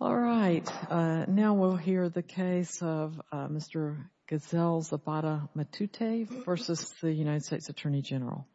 All right. Now we'll hear the case of Mr. Geisel Zapata-Matute v. U.S. Attorney General.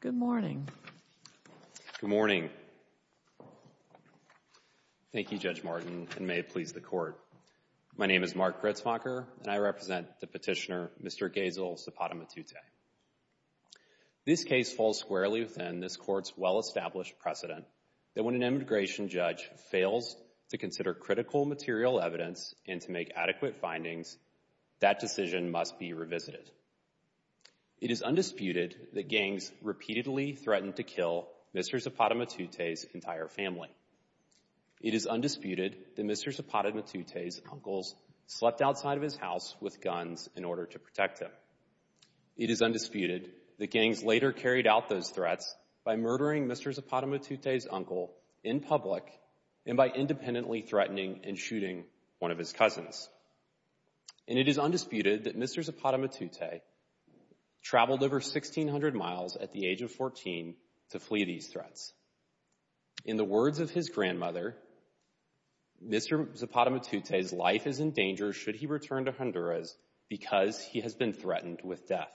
Good morning. Good morning. Thank you, Judge Martin, and may it please the Court. My name is Mark Gretzmacher, and I represent the petitioner, Mr. Geisel Zapata-Matute. This case falls squarely within this Court's well-established precedent that when an immigration judge fails to consider critical material evidence and to make adequate findings, that decision must be revisited. It is undisputed that gangs repeatedly threatened to kill Mr. Zapata-Matute's entire family. It is undisputed that Mr. Zapata-Matute's uncles slept outside of his house with guns in order to protect him. It is undisputed that gangs later carried out those threats by murdering Mr. Zapata-Matute's uncle in public and by independently threatening and shooting one of his cousins. And it is undisputed that Mr. Zapata-Matute traveled over 1,600 miles at the age of 14 to flee these threats. In the words of his grandmother, Mr. Zapata-Matute's life is in danger should he return to Honduras because he has been threatened with death.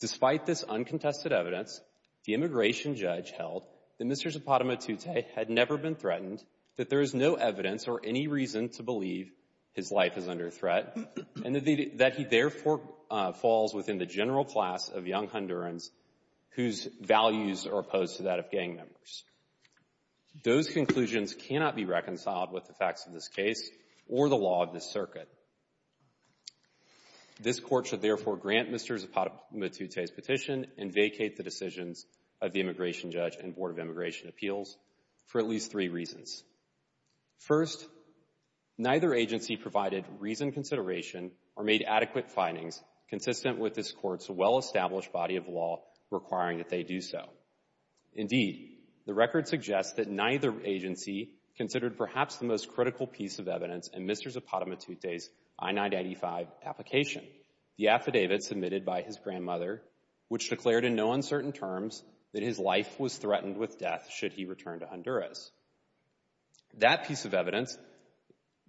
Despite this uncontested evidence, the immigration judge held that Mr. Zapata-Matute had never been threatened, that there is no evidence or any reason to believe his life is under threat, and that he therefore falls within the general class of young Hondurans whose values are opposed to that of gang members. Those conclusions cannot be reconciled with the facts of this case or the law of the circuit. This court should therefore grant Mr. Zapata-Matute's petition and vacate the decisions of the immigration judge and Board of Immigration Appeals for at least three reasons. First, neither agency provided reasoned consideration or made adequate findings consistent with this court's well-established body of law requiring that they do so. Indeed, the record suggests that neither agency considered perhaps the most critical piece of evidence in Mr. Zapata-Matute's I-995 application, the affidavit submitted by his grandmother, which declared in no uncertain terms that his life was threatened with death should he return to Honduras. That piece of evidence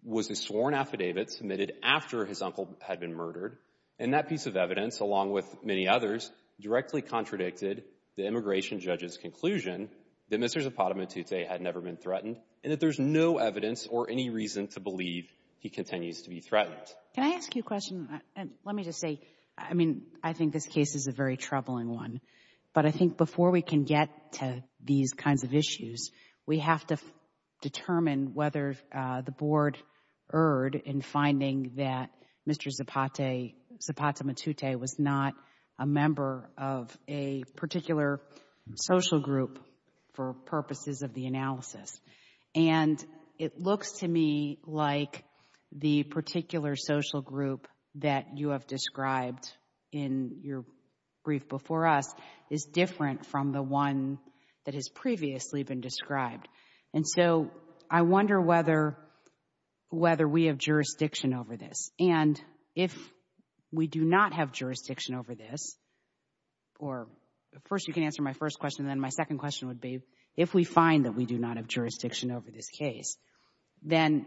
was a sworn affidavit submitted after his uncle had been murdered, and that piece of evidence, along with many others, directly contradicted the immigration judge's conclusion that Mr. Zapata-Matute had never been threatened and that there's no evidence or any reason to believe he continues to be threatened. Can I ask you a question? Let me just say, I mean, I think this case is a very troubling one, but I think before we can get to these kinds of issues, we have to determine whether the Board erred in finding that Mr. Zapata-Matute was not a member of a particular social group for purposes of the analysis. And it looks to me like the particular social group that you have described in your brief before us is different from the one that has previously been described. And so I wonder whether we have jurisdiction over this. And if we do not have jurisdiction over this, or first you can answer my first question, then my question would be, if we find that we do not have jurisdiction over this case, then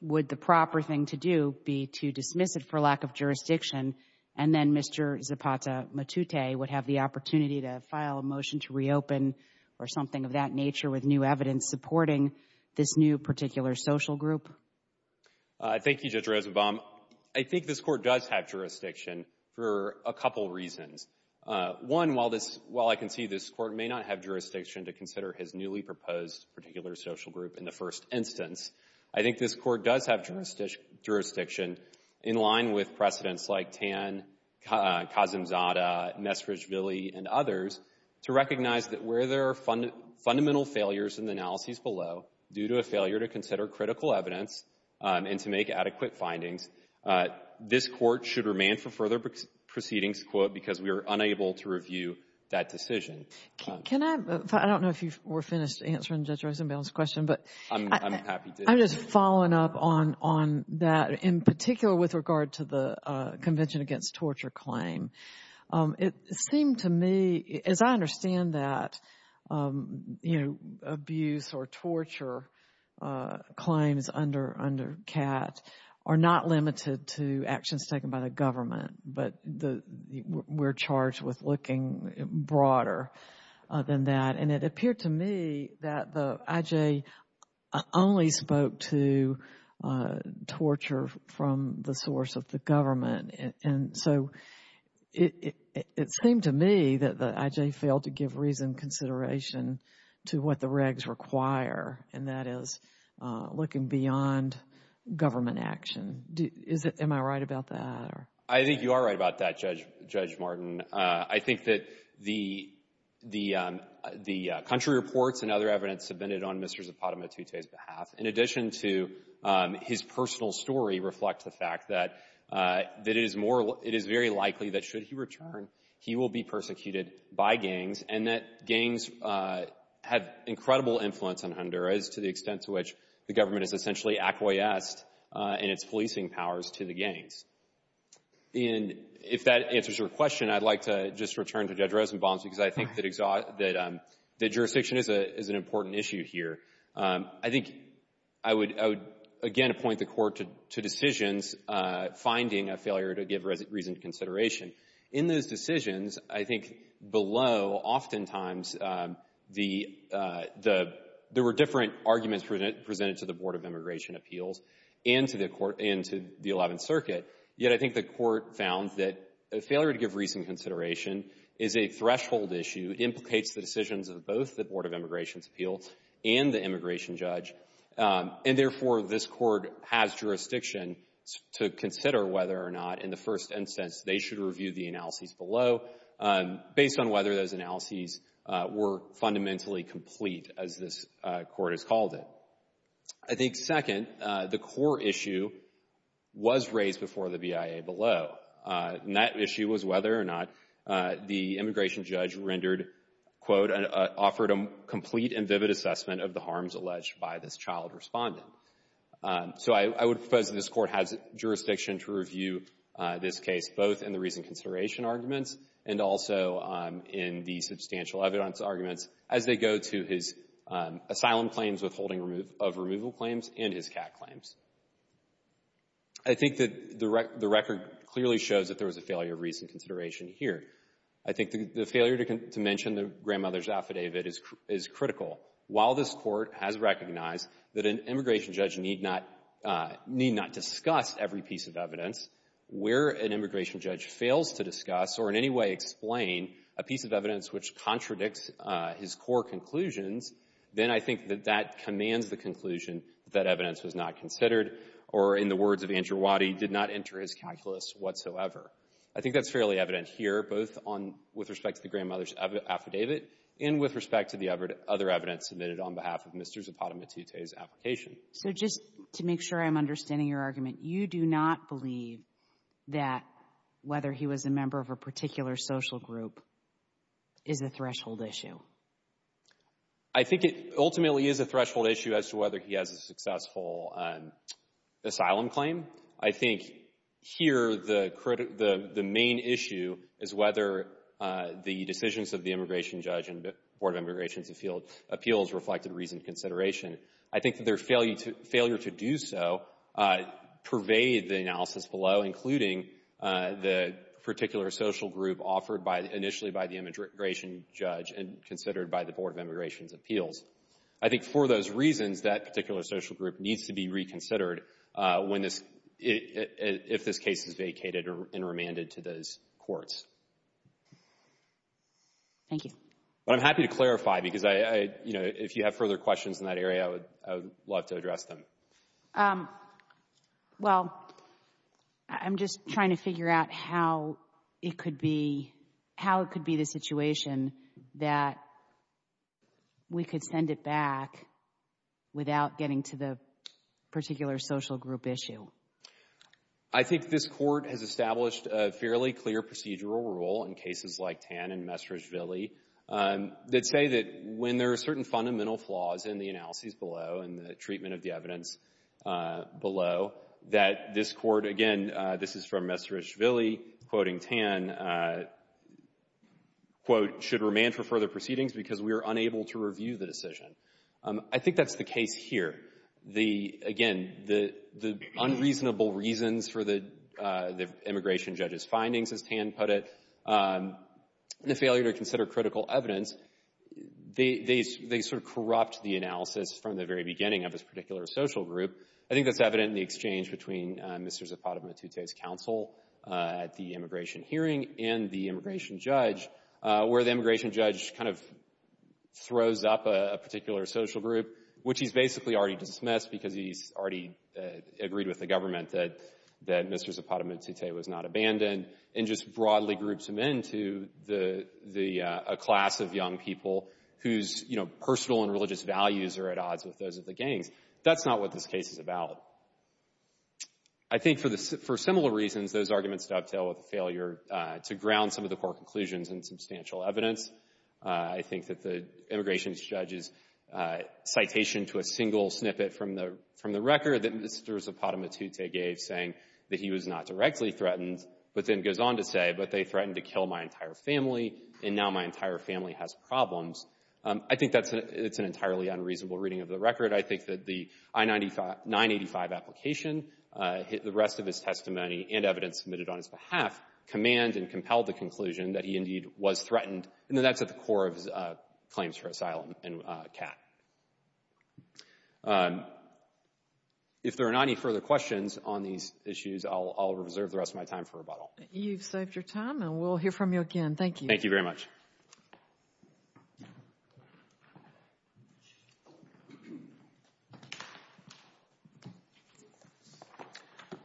would the proper thing to do be to dismiss it for lack of jurisdiction, and then Mr. Zapata-Matute would have the opportunity to file a motion to reopen or something of that nature with new evidence supporting this new particular social group? Thank you, Judge Rosenbaum. I think this Court does have jurisdiction for a couple reasons. One, while I can see this Court may not have jurisdiction to consider his newly proposed particular social group in the first instance, I think this Court does have jurisdiction in line with precedents like Tan, Kazimzada, Nesrich, Ville, and others to recognize that where there are fundamental failures in the analyses below, due to a failure to consider critical evidence and to make adequate findings, this Court should remain for further proceedings, because we are unable to review that decision. Can I, I don't know if you were finished answering Judge Rosenbaum's question, but I'm just following up on that, in particular with regard to the Convention Against Torture claim. It seemed to me, as I understand that, you know, abuse or torture claims under CAT are not limited to actions taken by the government, but we're charged with looking broader than that. And it appeared to me that the IJ only spoke to torture from the source of the government. And so, it seemed to me that the IJ failed to give reasoned consideration to what the IJ was doing beyond government action. Is it, am I right about that, or? I think you are right about that, Judge Martin. I think that the country reports and other evidence submitted on Mr. Zapata-Matute's behalf, in addition to his personal story, reflect the fact that it is more, it is very likely that should he return, he will be persecuted by gangs, and that gangs have incredible influence on Honduras to the extent to which the government has essentially acquiesced in its policing powers to the gangs. And if that answers your question, I'd like to just return to Judge Rosenbaum's, because I think that jurisdiction is an important issue here. I think I would, again, appoint the Court to decisions finding a failure to give reasoned consideration. In those decisions, I think below, oftentimes, the, there were different arguments presented to the Board of Immigration Appeals and to the Court, and to the Eleventh Circuit, yet I think the Court found that a failure to give reasoned consideration is a threshold issue, implicates the decisions of both the Board of Immigration Appeals and the immigration judge, and therefore, this Court has jurisdiction to consider whether or not, in the first instance, they should review the analyses below, based on whether those analyses were fundamentally complete, as this Court has called it. I think, second, the core issue was raised before the BIA below, and that issue was whether or not the immigration judge rendered, quote, offered a complete and vivid assessment of the harms alleged by this child respondent. So, I would propose that this Court has jurisdiction to review this case, both in the reasoned consideration arguments and also in the substantial evidence arguments, as they go to his asylum claims, withholding of removal claims, and his cat claims. I think that the record clearly shows that there was a failure of reasoned consideration here. I think the failure to mention the grandmother's affidavit is critical. While this Court has recognized that an immigration judge need not discuss every piece of evidence, where an immigration judge fails to discuss or in any way explain a piece of evidence which contradicts his core conclusions, then I think that that commands the conclusion that evidence was not considered or, in the words of Anjurwadi, did not enter his calculus whatsoever. I think that's fairly evident here, both on with respect to the grandmother's affidavit and with respect to the other evidence submitted on behalf of Mr. Zapata-Matute's application. So just to make sure I'm understanding your argument, you do not believe that whether he was a member of a particular social group is a threshold issue? I think it ultimately is a threshold issue as to whether he has a successful asylum claim. I think here the main issue is whether the decisions of the immigration judge and the failure to do so pervade the analysis below, including the particular social group offered initially by the immigration judge and considered by the Board of Immigration's appeals. I think for those reasons, that particular social group needs to be reconsidered when this — if this case is vacated and remanded to those courts. Thank you. But I'm happy to clarify, because I — you know, if you have further questions in that area, you can address them. Well, I'm just trying to figure out how it could be — how it could be the situation that we could send it back without getting to the particular social group issue. I think this Court has established a fairly clear procedural rule in cases like Tan and Mestrizvilli that say that when there are certain fundamental flaws in the analyses below and the treatment of the evidence below, that this Court — again, this is from Mestrizvilli quoting Tan — quote, should remand for further proceedings because we are unable to review the decision. I think that's the case here. The — again, the unreasonable reasons for the immigration judge's findings, as Tan put it, and the failure to consider critical evidence, they sort of corrupt the analysis from the very beginning of this particular social group. I think that's evident in the exchange between Mr. Zapata-Matute's counsel at the immigration hearing and the immigration judge, where the immigration judge kind of throws up a particular social group, which he's basically already dismissed because he's already agreed with the government that Mr. Zapata-Matute was not abandoned, and just broadly groups him into the — a class of young people whose, you know, personal and religious values are at odds with those of the gangs. That's not what this case is about. I think for similar reasons, those arguments dovetail with the failure to ground some of the Court conclusions in substantial evidence. I think that the immigration judge's citation to a single snippet from the record that Mr. Zapata-Matute gave saying that he was not directly threatened, but then goes on to say, but they threatened to kill my entire family, and now my entire family has problems. I think that's — it's an entirely unreasonable reading of the record. I think that the I-985 application, the rest of his testimony and evidence submitted on his behalf command and compel the conclusion that he indeed was threatened, and that that's at the core of his claims for asylum and CAT. If there are not any further questions on these issues, I'll reserve the rest of my time for rebuttal. You've saved your time, and we'll hear from you again. Thank you. Thank you very much.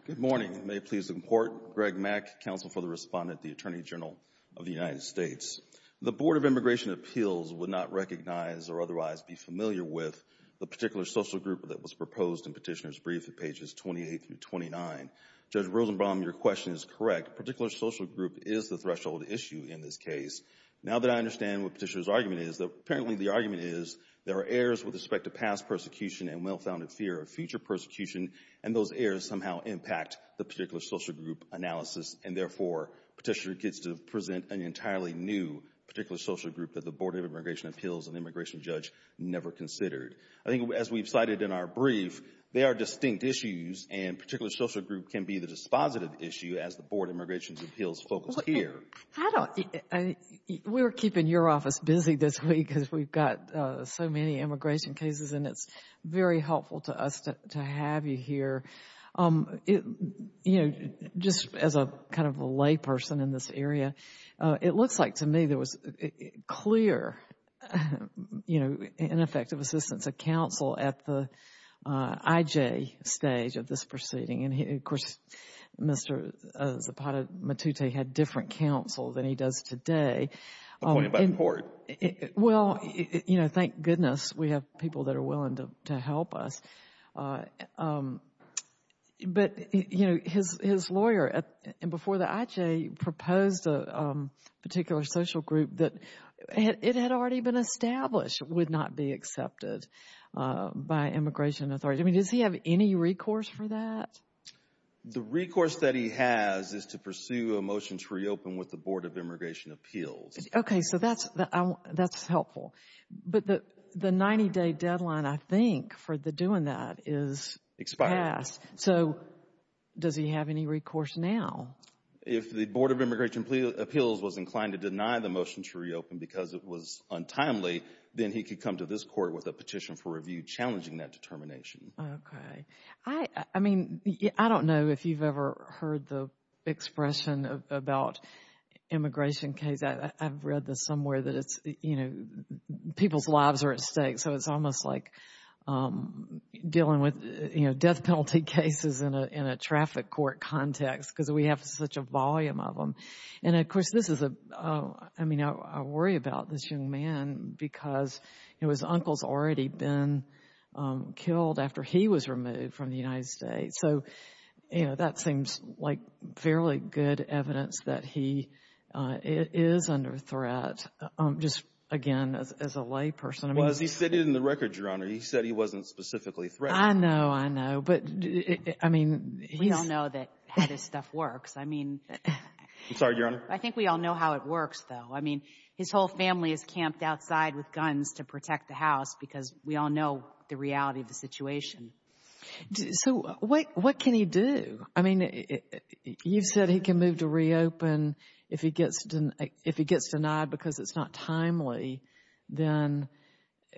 Good morning. May it please the Court. Greg Mack, counsel for the Respondent at the Attorney General of the United States. The Board of Immigration Appeals would not recognize or otherwise be familiar with the particular social group that was proposed in Petitioner's Brief at pages 28 through 29. Judge Rosenbaum, your question is correct. Particular social group is the threshold issue in this case. Now that I understand what Petitioner's argument is, apparently the argument is there are errors with respect to past persecution and well-founded fear of future persecution, and those errors somehow impact the particular social group analysis, and therefore Petitioner gets to present an entirely new particular social group that the Board of Immigration Appeals and immigration judge never considered. I think as we've cited in our brief, they are distinct issues, and particular social group can be the dispositive issue as the Board of Immigration Appeals focuses here. We're keeping your office busy this week because we've got so many immigration cases, and it's very helpful to us to have you here. Just as a kind of a layperson in this area, it looks like to me there was clear ineffective assistance of counsel at the IJ stage of this proceeding, and, of course, Mr. Zapata Matute had different counsel than he does today. A point about the court. Well, you know, thank goodness we have people that are willing to help us, but, you know, his lawyer before the IJ proposed a particular social group that it had already been established would not be accepted by immigration authorities. I mean, does he have any recourse for that? The recourse that he has is to pursue a motion to reopen with the Board of Immigration Appeals. Okay, so that's helpful, but the 90-day deadline, I think, for the doing that is expired. So does he have any recourse now? If the Board of Immigration Appeals was inclined to deny the motion to reopen because it was timely, then he could come to this court with a petition for review challenging that determination. Okay, I mean, I don't know if you've ever heard the expression about immigration case. I've read this somewhere that it's, you know, people's lives are at stake. So it's almost like dealing with, you know, death penalty cases in a traffic court context because we have such a volume of them. And, of course, this is a, I mean, I worry about this young man because, you know, his uncle's already been killed after he was removed from the United States. So, you know, that seems like fairly good evidence that he is under threat, just, again, as a layperson. Well, as he stated in the record, Your Honor, he said he wasn't specifically threatened. I know, I know, but I mean, he's We don't know how this stuff works. I mean, I think we all know how it works, though. I mean, his whole family is camped outside with guns to protect the house because we all know the reality of the situation. So what can he do? I mean, you've said he can move to reopen if he gets denied because it's not timely, then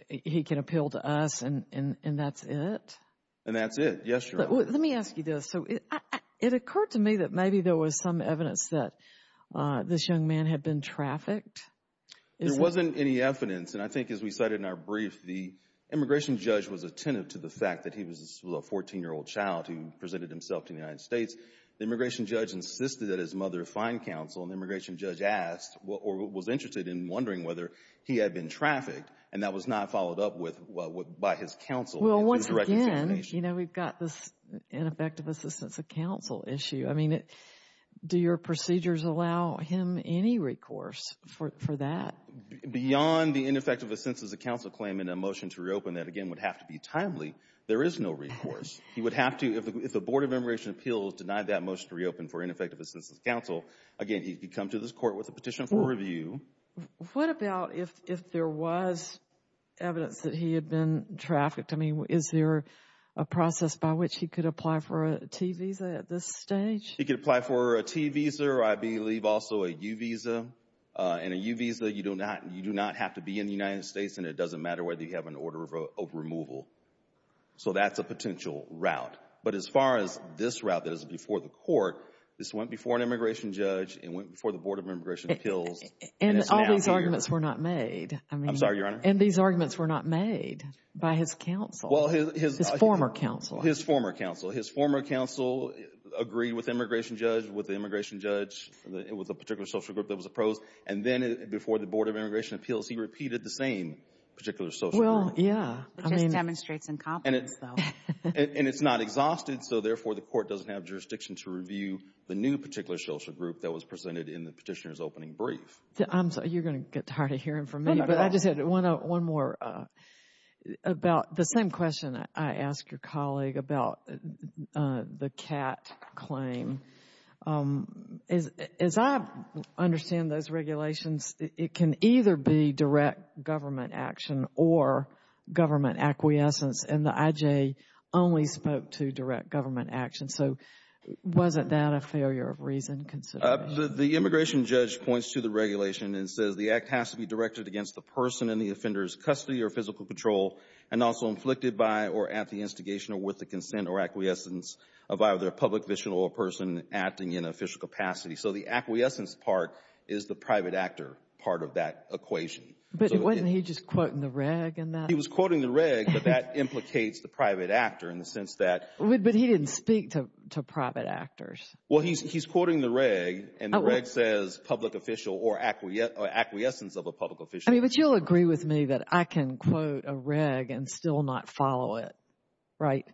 he can appeal to us and that's it. And that's it. Yes, Your Honor. Let me ask you this. It occurred to me that maybe there was some evidence that this young man had been trafficked. There wasn't any evidence, and I think as we cited in our brief, the immigration judge was attentive to the fact that he was a 14-year-old child who presented himself to the United States. The immigration judge insisted that his mother find counsel, and the immigration judge asked or was interested in wondering whether he had been trafficked, and that was not followed up with by his counsel. Well, once again, you know, we've got this ineffective assistance of counsel issue. I mean, do your procedures allow him any recourse for that? Beyond the ineffective assistance of counsel claim and a motion to reopen that, again, would have to be timely, there is no recourse. He would have to, if the Board of Immigration Appeals denied that motion to reopen for ineffective assistance of counsel, again, he could come to this court with a petition for review. What about if there was evidence that he had been trafficked? Is there a process by which he could apply for a T visa at this stage? He could apply for a T visa or I believe also a U visa. And a U visa, you do not have to be in the United States, and it doesn't matter whether you have an order of removal. So that's a potential route. But as far as this route that is before the court, this went before an immigration judge and went before the Board of Immigration Appeals. And all these arguments were not made. I'm sorry, Your Honor? And these arguments were not made by his counsel, his former counsel. His former counsel. His former counsel agreed with the immigration judge, with the immigration judge, with a particular social group that was opposed. And then before the Board of Immigration Appeals, he repeated the same particular social group. Well, yeah. It just demonstrates incompetence, though. And it's not exhausted, so therefore, the court doesn't have jurisdiction to review the new particular social group that was presented in the petitioner's opening brief. I'm sorry, you're going to get tired of hearing from me. But I just had one more about the same question I asked your colleague about the CAT claim. As I understand those regulations, it can either be direct government action or government acquiescence, and the IJ only spoke to direct government action. So wasn't that a failure of reason, considering? The immigration judge points to the regulation and says the act has to be directed against the person in the offender's custody or physical control and also inflicted by or at the instigation or with the consent or acquiescence of either a public official or a person acting in official capacity. So the acquiescence part is the private actor part of that equation. But wasn't he just quoting the reg in that? He was quoting the reg, but that implicates the private actor in the sense that— But he didn't speak to private actors. Well, he's quoting the reg, and the reg says public official or acquiescence of a public official. But you'll agree with me that I can quote a reg and still not follow it, right?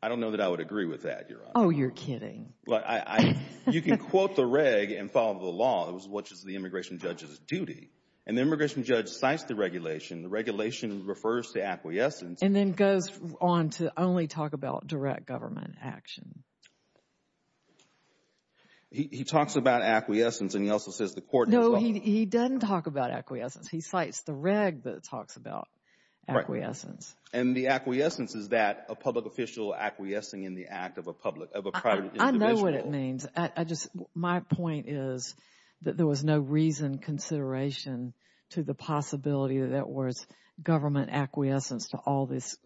I don't know that I would agree with that, Your Honor. Oh, you're kidding. You can quote the reg and follow the law, which is the immigration judge's duty. And the immigration judge cites the regulation. The regulation refers to acquiescence. And then goes on to only talk about direct government action. He talks about acquiescence, and he also says the court— He doesn't talk about acquiescence. He cites the reg that talks about acquiescence. And the acquiescence is that a public official acquiescing in the act of a private individual. I know what it means. My point is that there was no reason, consideration to the possibility that there was government acquiescence to all this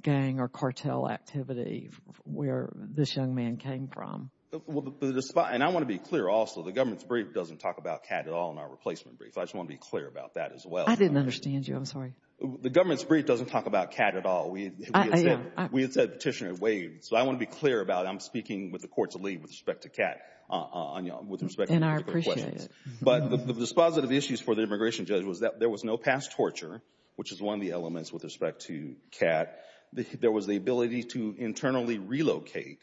gang or cartel activity where this young man came from. And I want to be clear also. The government's brief doesn't talk about Cat at all in our replacement brief. I just want to be clear about that as well. I didn't understand you. I'm sorry. The government's brief doesn't talk about Cat at all. We had said Petitioner had waived. So I want to be clear about it. I'm speaking with the court's lead with respect to Cat, with respect to your questions. And I appreciate it. But the dispositive issues for the immigration judge was that there was no past torture, which is one of the elements with respect to Cat. There was the ability to internally relocate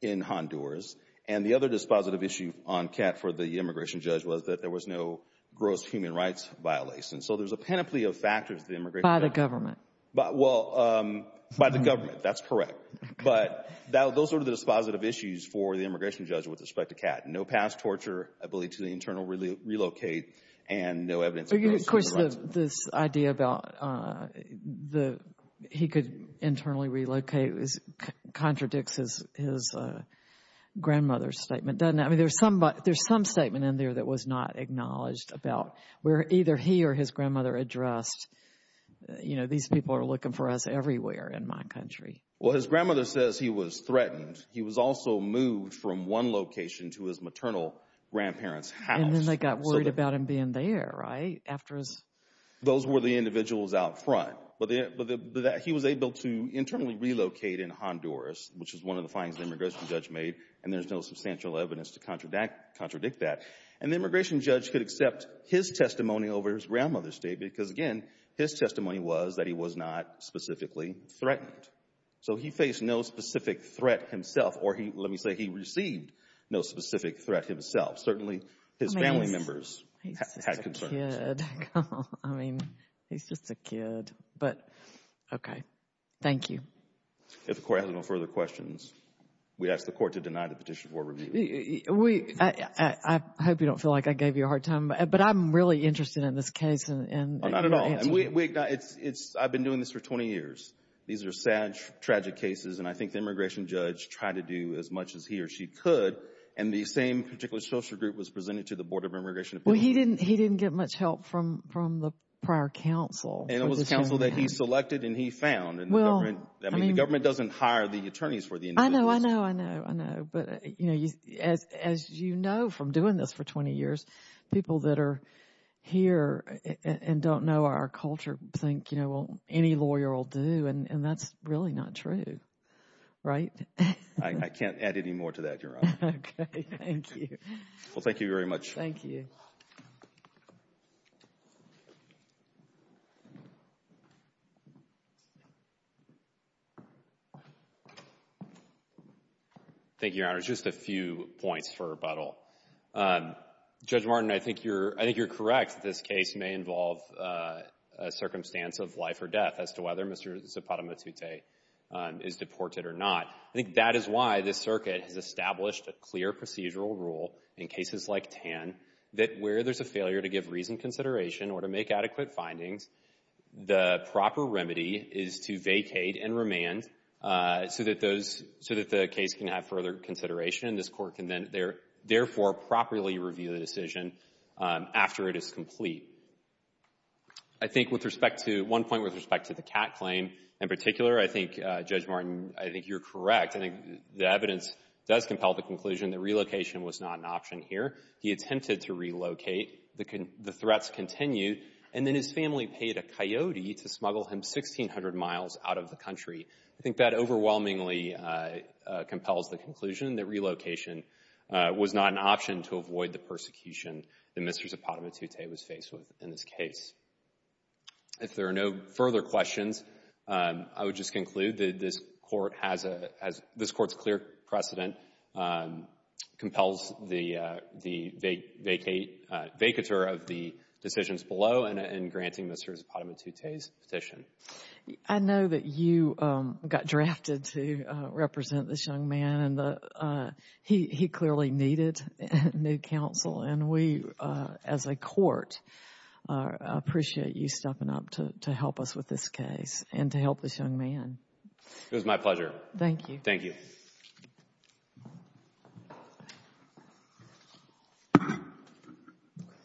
in Honduras. And the other dispositive issue on Cat for the immigration judge was that there was no gross human rights violation. So there's a panoply of factors that the immigration judge— By the government. Well, by the government. That's correct. But those are the dispositive issues for the immigration judge with respect to Cat. No past torture, ability to internally relocate, and no evidence— This idea about he could internally relocate contradicts his grandmother's statement, doesn't it? I mean, there's some statement in there that was not acknowledged about where either he or his grandmother addressed, you know, these people are looking for us everywhere in my country. Well, his grandmother says he was threatened. He was also moved from one location to his maternal grandparents' house. And then they got worried about him being there, right? After his— Those were the individuals out front. But he was able to internally relocate in Honduras, which is one of the findings the immigration judge made. And there's no substantial evidence to contradict that. And the immigration judge could accept his testimony over his grandmother's state because, again, his testimony was that he was not specifically threatened. So he faced no specific threat himself, or let me say he received no specific threat himself. Certainly, his family members had concerns. I mean, he's just a kid. But, okay. Thank you. If the Court has no further questions, we ask the Court to deny the petition for review. We—I hope you don't feel like I gave you a hard time. But I'm really interested in this case and— Oh, not at all. I've been doing this for 20 years. These are sad, tragic cases. And I think the immigration judge tried to do as much as he or she could. And the same particular social group was presented to the Board of Immigration Appeals. He didn't get much help from the prior counsel. And it was a counsel that he selected and he found. And the government—I mean, the government doesn't hire the attorneys for the individuals. I know, I know, I know, I know. But, you know, as you know from doing this for 20 years, people that are here and don't know our culture think, you know, well, any lawyer will do. And that's really not true, right? I can't add any more to that, Your Honor. Okay. Thank you. Well, thank you very much. Thank you. Thank you, Your Honor. Just a few points for rebuttal. Judge Martin, I think you're correct. This case may involve a circumstance of life or death as to whether Mr. Zapata Matute is deported or not. I think that is why this circuit has established a clear procedural rule in cases like Tan that where there's a failure to give reasoned consideration or to make adequate findings, the proper remedy is to vacate and remand so that those—so that the case can have further consideration. And this court can then therefore properly review the decision after it is complete. I think with respect to—one point with respect to the Catt claim in particular, I think, Judge Martin, I think you're correct. The evidence does compel the conclusion that relocation was not an option here. He attempted to relocate. The threats continued. And then his family paid a coyote to smuggle him 1,600 miles out of the country. I think that overwhelmingly compels the conclusion that relocation was not an option to avoid the persecution that Mr. Zapata Matute was faced with in this case. If there are no further questions, I would just conclude that this court has a—this court's clear precedent compels the vacator of the decisions below and granting Mr. Zapata Matute's petition. I know that you got drafted to represent this young man. And he clearly needed new counsel. And we, as a court, appreciate you stepping up to help us with this case and to help this young man. It was my pleasure. Thank you. Thank you.